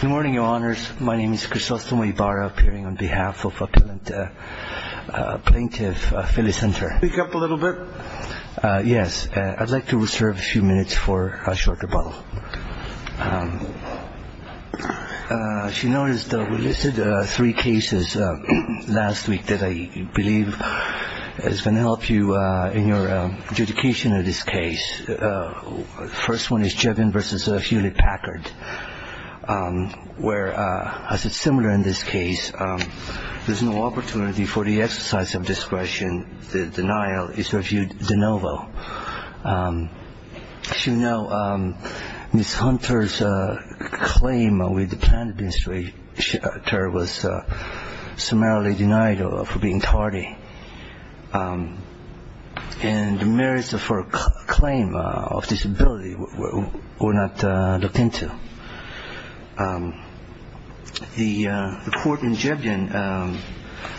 Good morning, Your Honors. My name is Christos Tomoibara, appearing on behalf of Appellant Plaintiff Philly Center. Speak up a little bit. Yes. I'd like to reserve a few minutes for a short rebuttal. As you noticed, we listed three cases last week that I believe is going to help you in your adjudication of this case. The first one is Jevin v. Hewlett-Packard, where, as is similar in this case, there's no opportunity for the exercise of discretion. The denial is reviewed de novo. As you know, Ms. Hunter's claim with the Plaintiff Institute was summarily denied for being tardy. And the merits of her claim of disability were not looked into. The court in Jebin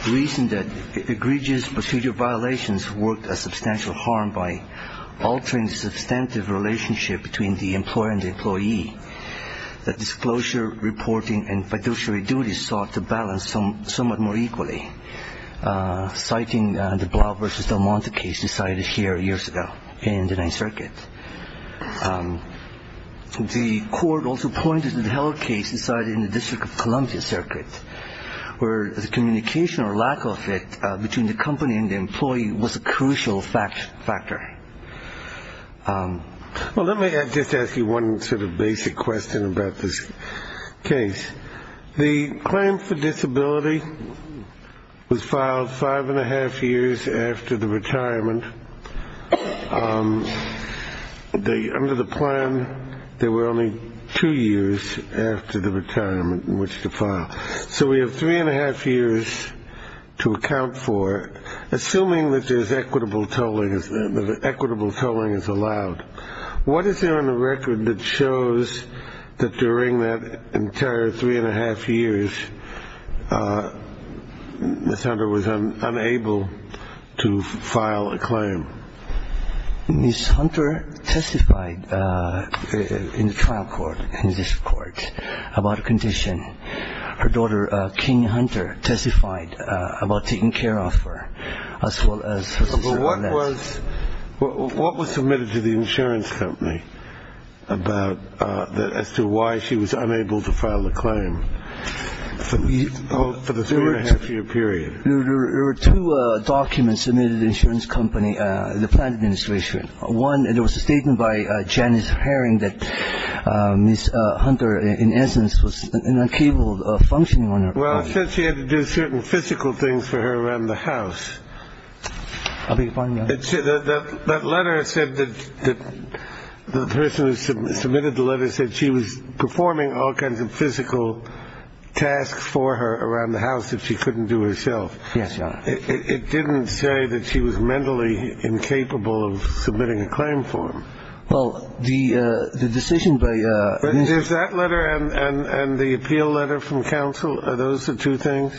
reasoned that egregious procedure violations worked a substantial harm by altering the substantive relationship between the employer and the employee, that disclosure reporting and fiduciary duties sought to balance somewhat more equally. Citing the Blau v. Del Monte case decided here years ago in the Ninth Circuit. The court also pointed to the Heller case decided in the District of Columbia Circuit, where the communication or lack of it between the company and the employee was a crucial factor. Well, let me just ask you one sort of basic question about this case. The claim for disability was filed five-and-a-half years after the retirement. Under the plan, there were only two years after the retirement in which to file. So we have three-and-a-half years to account for. Assuming that there's equitable tolling, that equitable tolling is allowed, what is there on the record that shows that during that entire three-and-a-half years, Ms. Hunter was unable to file a claim? Ms. Hunter testified in the trial court, in the district court, about a condition. Her daughter, King Hunter, testified about taking care of her as well as her sister. What was submitted to the insurance company as to why she was unable to file a claim for the three-and-a-half year period? There were two documents submitted to the insurance company, the plan administration. One, it was a statement by Janice Herring that Ms. Hunter, in essence, was incapable of functioning on her own. Well, since she had to do certain physical things for her around the house. I beg your pardon, Your Honor. That letter said that the person who submitted the letter said she was performing all kinds of physical tasks for her around the house that she couldn't do herself. Yes, Your Honor. It didn't say that she was mentally incapable of submitting a claim form. Well, the decision by Ms. Hunter. Is that letter and the appeal letter from counsel, are those the two things?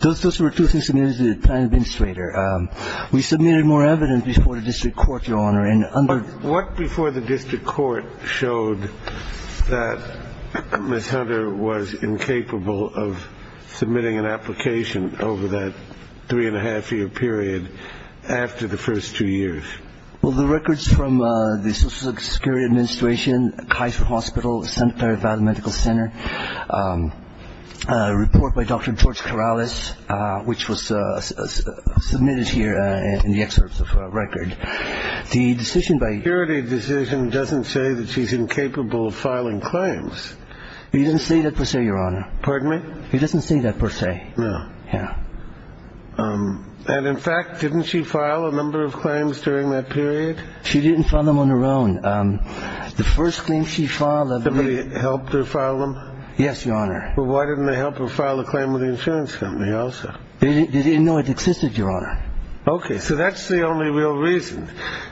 Those were two things submitted to the plan administrator. We submitted more evidence before the district court, Your Honor. What before the district court showed that Ms. Hunter was incapable of submitting an application over that three-and-a-half year period after the first two years? Well, the records from the Social Security Administration, Kaiser Hospital, Santa Clara Valley Medical Center, a report by Dr. George Corrales, which was submitted here in the excerpts of the record, the decision by. Security decision doesn't say that she's incapable of filing claims. He didn't say that per se, Your Honor. Pardon me? He doesn't say that per se. No. Yeah. And in fact, didn't she file a number of claims during that period? She didn't file them on her own. The first thing she filed. Somebody helped her file them? Yes, Your Honor. Well, why didn't they help her file a claim with the insurance company also? They didn't know it existed, Your Honor. Okay. So that's the only real reason.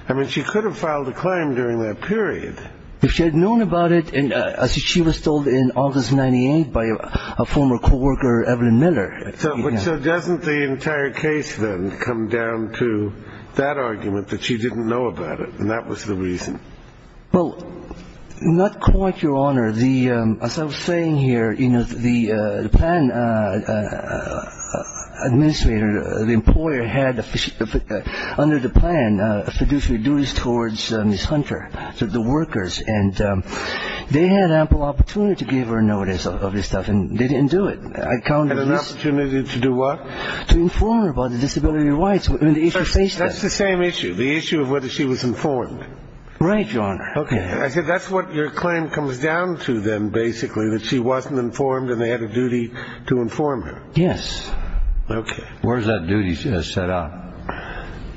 I mean, she could have filed a claim during that period. If she had known about it and she was told in August 98 by a former co-worker, Evelyn Miller. So doesn't the entire case then come down to that argument that she didn't know about it, and that was the reason? Well, not quite, Your Honor. As I was saying here, you know, the plan administrator, the employer, had under the plan fiduciary duties towards Ms. Hunter, the workers, and they had ample opportunity to give her notice of this stuff, and they didn't do it. Had an opportunity to do what? To inform her about the disability rights when the issue faced them. That's the same issue, the issue of whether she was informed. Right, Your Honor. Okay. I said that's what your claim comes down to then, basically, that she wasn't informed and they had a duty to inform her. Yes. Okay. Where is that duty set up?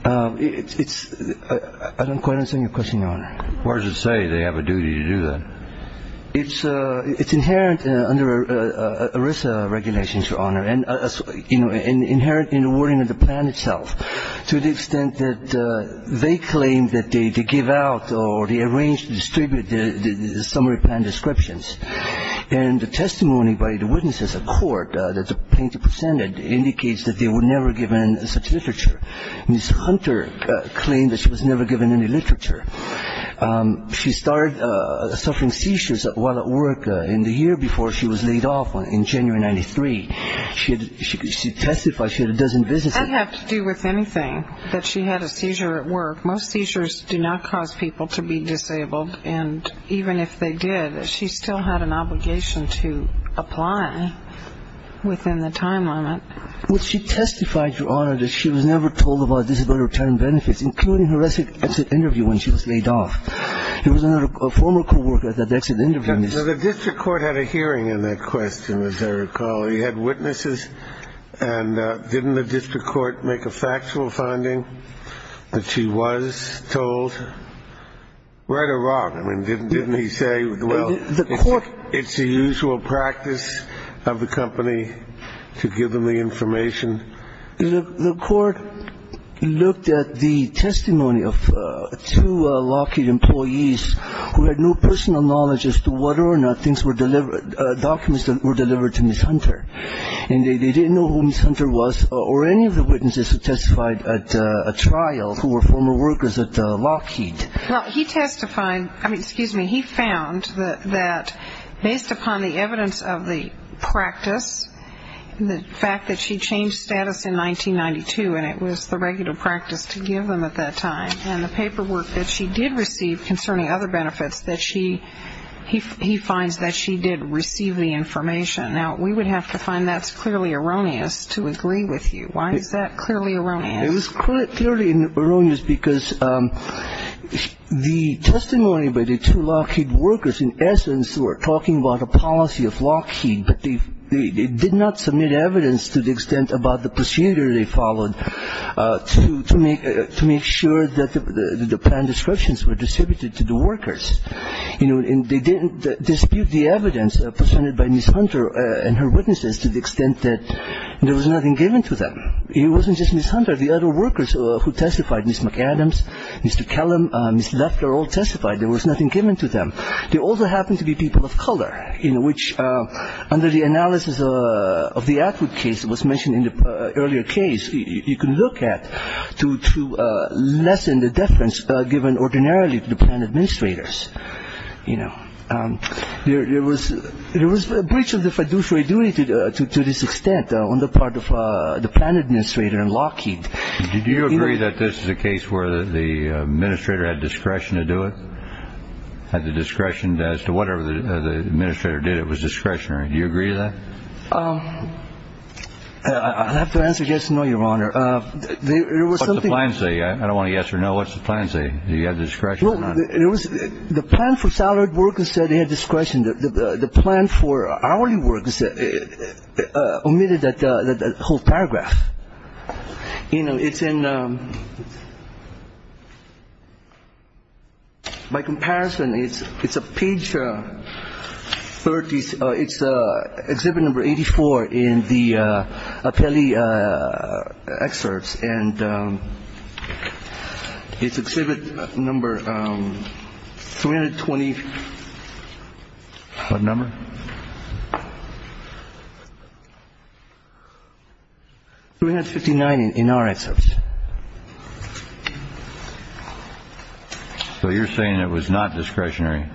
I don't quite understand your question, Your Honor. Where does it say they have a duty to do that? It's inherent under ERISA regulations, Your Honor, and inherent in the wording of the plan itself, to the extent that they claim that they give out or they arrange to distribute the summary plan descriptions. And the testimony by the witnesses at court that the plaintiff presented indicates that they were never given such literature. Ms. Hunter claimed that she was never given any literature. She started suffering seizures while at work in the year before she was laid off in January of 1993. She testified she had a dozen businesses. That had to do with anything, that she had a seizure at work. Most seizures do not cause people to be disabled, and even if they did, she still had an obligation to apply within the time limit. Well, she testified, Your Honor, that she was never told about disability return benefits, including her exit interview when she was laid off. He was a former co-worker at that exit interview. Now, the district court had a hearing on that question, as I recall. You had witnesses, and didn't the district court make a factual finding that she was told? Right or wrong? I mean, didn't he say, well, it's the usual practice of the company to give them the information? The court looked at the testimony of two Lockheed employees who had no personal knowledge as to whether or not things were delivered, documents that were delivered to Ms. Hunter, and they didn't know who Ms. Hunter was or any of the witnesses who testified at a trial who were former workers at Lockheed. Well, he testified, I mean, excuse me, he found that based upon the evidence of the practice, the fact that she changed status in 1992, and it was the regular practice to give them at that time, and the paperwork that she did receive concerning other benefits, that he finds that she did receive the information. Now, we would have to find that's clearly erroneous to agree with you. Why is that clearly erroneous? It was clearly erroneous because the testimony by the two Lockheed workers, in essence, were talking about a policy of Lockheed, but they did not submit evidence to the extent about the procedure they followed to make sure that the plan descriptions were distributed to the workers. And they didn't dispute the evidence presented by Ms. Hunter and her witnesses to the extent that there was nothing given to them. It wasn't just Ms. Hunter. The other workers who testified, Ms. McAdams, Mr. Kellum, Ms. Leffler, all testified there was nothing given to them. There also happened to be people of color in which, under the analysis of the Atwood case that was mentioned in the earlier case, you can look at to lessen the deference given ordinarily to the plan administrators. There was a breach of the fiduciary duty to this extent on the part of the plan administrator in Lockheed. Did you agree that this is a case where the administrator had discretion to do it, or had the discretion as to whatever the administrator did, it was discretionary? Do you agree with that? I'll have to answer yes and no, Your Honor. What's the plan say? I don't want to yes or no. What's the plan say? Do you have discretion or not? The plan for salaried workers said they had discretion. The plan for hourly workers omitted that whole paragraph. You know, it's in my comparison. It's a page 30. It's Exhibit Number 84 in the Appelli excerpts. And it's Exhibit Number 320. What number? 359 in our excerpts. So you're saying it was not discretionary?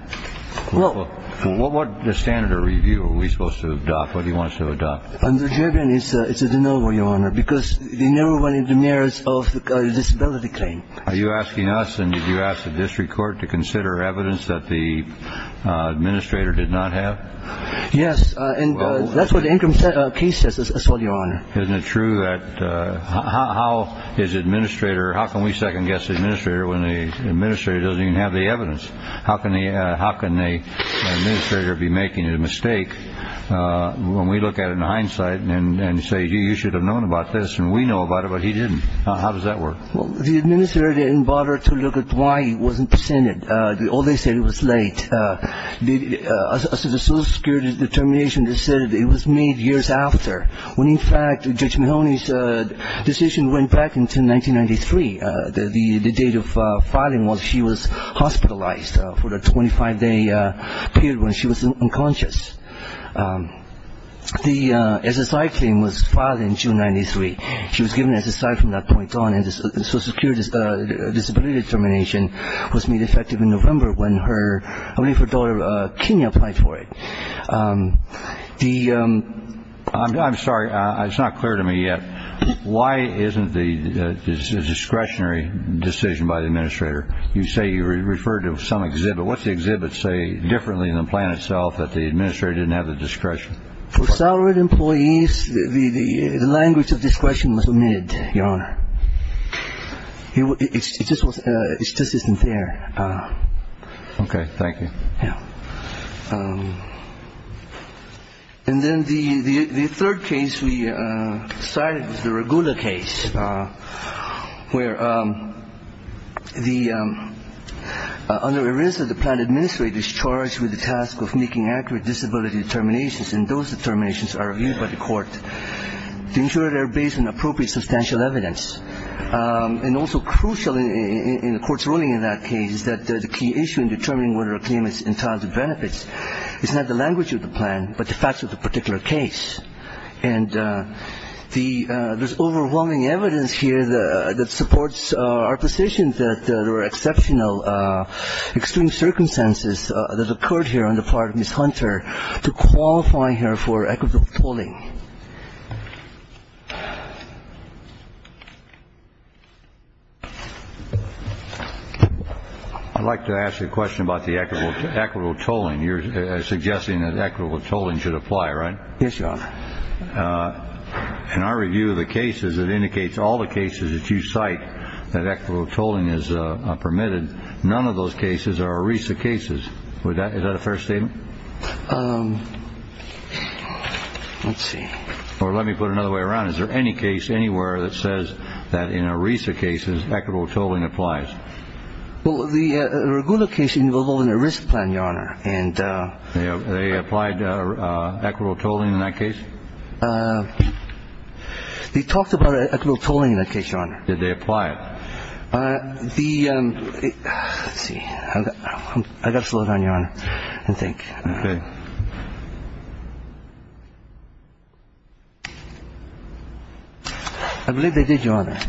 Well, what standard of review are we supposed to adopt? What do you want us to adopt? It's a de novo, Your Honor, because they never went in the mirrors of the disability claim. Are you asking us and did you ask the district court to consider evidence that the administrator did not have? Yes. And that's what the interim case says as well, Your Honor. Isn't it true that how is administrator or how can we second guess the administrator when the administrator doesn't even have the evidence? How can the administrator be making a mistake when we look at it in hindsight and say you should have known about this and we know about it, but he didn't? How does that work? Well, the administrator didn't bother to look at why it wasn't presented. All they said was it was late. The social security determination, they said it was made years after, when, in fact, Judge Mahoney's decision went back into 1993. The date of filing was she was hospitalized for the 25-day period when she was unconscious. The SSI claim was filed in June 93. She was given SSI from that point on, and the social security determination was made effective in November when her daughter Kenya applied for it. I'm sorry. It's not clear to me yet. Why isn't the discretionary decision by the administrator? You say you referred to some exhibit. What's the exhibit say differently than the plan itself that the administrator didn't have the discretion? For salaried employees, the language of discretion was omitted, Your Honor. It just isn't there. Okay. Thank you. And then the third case we cited is the Regula case, where under arrears of the plan, the administrator is charged with the task of making accurate disability determinations, and those determinations are reviewed by the court to ensure they're based on appropriate substantial evidence. And also crucial in the court's ruling in that case is that the key issue in determining whether a claim is entitled to benefits is not the language of the plan but the facts of the particular case. And there's overwhelming evidence here that supports our position that there were exceptional extreme circumstances that occurred here on the part of Ms. Hunter to qualify her for equitable tolling. I'd like to ask a question about the equitable tolling. You're suggesting that equitable tolling should apply, right? Yes, Your Honor. In our review of the cases, it indicates all the cases that you cite that equitable tolling is permitted. None of those cases are ERISA cases. Is that a fair statement? Let's see. Or let me put it another way around. Is there any case anywhere that says that in ERISA cases equitable tolling applies? No, Your Honor. And they applied equitable tolling in that case? They talked about equitable tolling in that case, Your Honor. Did they apply it? Let's see. I've got to slow down, Your Honor, and think. Okay. I believe they did, Your Honor.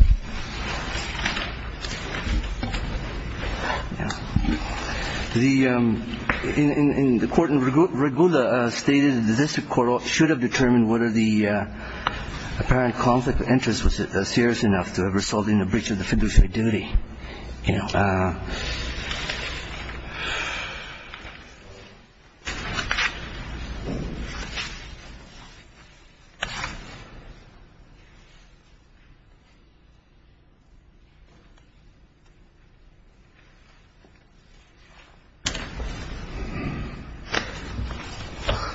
The court in Regula stated that this court should have determined whether the apparent conflict of interest was serious enough to have resulted in a breach of the fiduciary duty.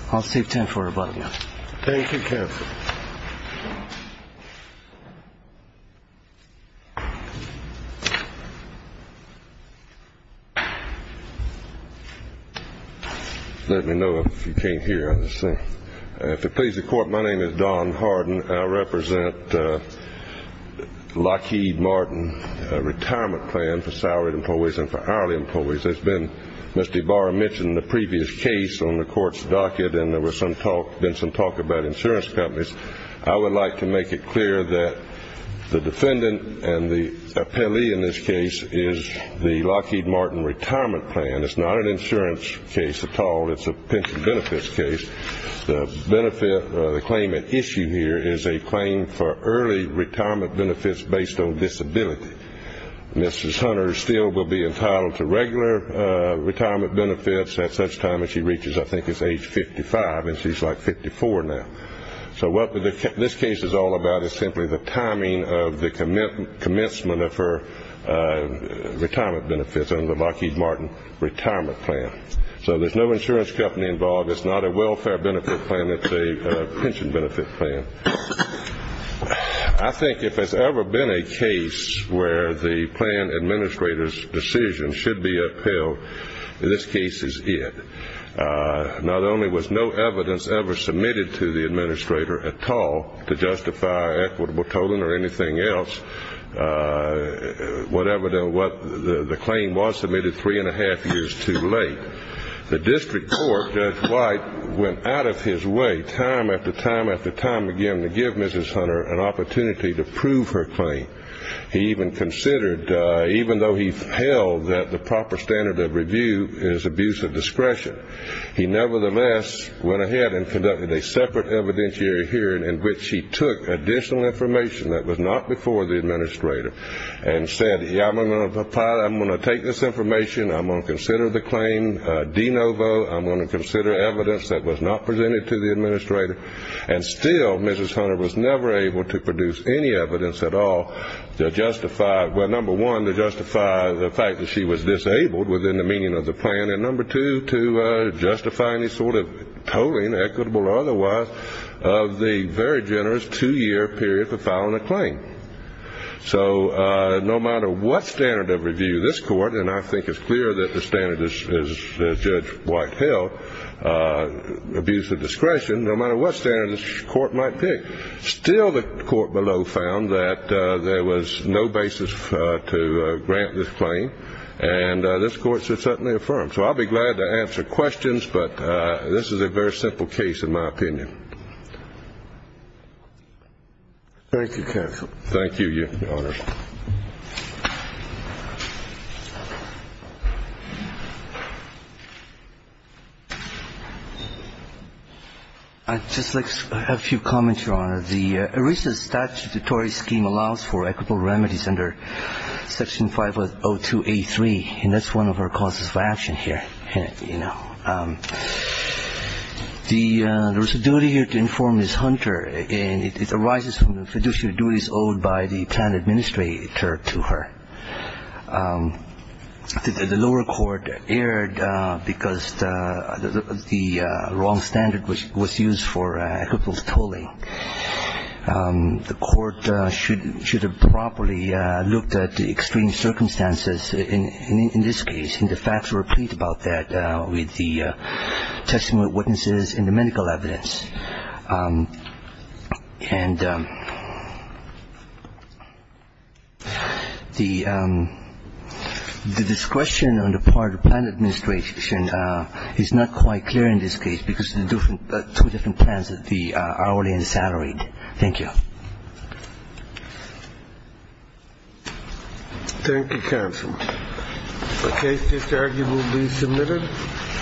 I'll save time for rebuttal, Your Honor. Thank you, counsel. Let me know if you came here. If it pleases the court, my name is Don Harden. I represent Lockheed Martin Retirement Plan for salaried employees and for hourly employees. Mr. Ibarra mentioned the previous case on the court's docket, and there was some talk about insurance companies. I would like to make it clear that the defendant and the appellee in this case is the Lockheed Martin Retirement Plan. It's not an insurance case at all. It's a pension benefits case. The claim at issue here is a claim for early retirement benefits based on disability. Mrs. Hunter still will be entitled to regular retirement benefits at such time as she reaches, I think it's age 55, and she's like 54 now. So what this case is all about is simply the timing of the commencement of her retirement benefits under the Lockheed Martin Retirement Plan. So there's no insurance company involved. It's not a welfare benefit plan. It's a pension benefit plan. I think if there's ever been a case where the plan administrator's decision should be upheld, this case is it. Not only was no evidence ever submitted to the administrator at all to justify equitable tolling or anything else, whatever the claim was submitted three and a half years too late, the district court, Judge White, went out of his way time after time after time again to give Mrs. Hunter an opportunity to prove her claim. He even considered, even though he held that the proper standard of review is abuse of discretion, he nevertheless went ahead and conducted a separate evidentiary hearing in which he took additional information that was not before the administrator and said, I'm going to take this information, I'm going to consider the claim de novo, I'm going to consider evidence that was not presented to the administrator, and still Mrs. Hunter was never able to produce any evidence at all to justify, well, number one, to justify the fact that she was disabled within the meaning of the plan, and number two, to justify any sort of tolling, equitable or otherwise, of the very generous two-year period for filing a claim. So no matter what standard of review this court, and I think it's clear that the standard that Judge White held, abuse of discretion, no matter what standard this court might pick, still the court below found that there was no basis to grant this claim, and this court should certainly affirm. So I'll be glad to answer questions, but this is a very simple case in my opinion. Thank you, counsel. Thank you, Your Honor. I'd just like a few comments, Your Honor. The ERISA statutory scheme allows for equitable remedies under Section 502A3, and that's one of our causes of action here, you know. There was a duty here to inform Ms. Hunter, and it arises from the fiduciary duties owed by the plan administrator to her. The lower court erred because the wrong standard was used for equitable tolling. The court should have properly looked at the extreme circumstances in this case and the facts repeat about that with the testimony of witnesses and the medical evidence. And the discretion on the part of the plan administration is not quite clear in this case because of the two different plans, the hourly and the salaried. Thank you, counsel. The case is currently being submitted.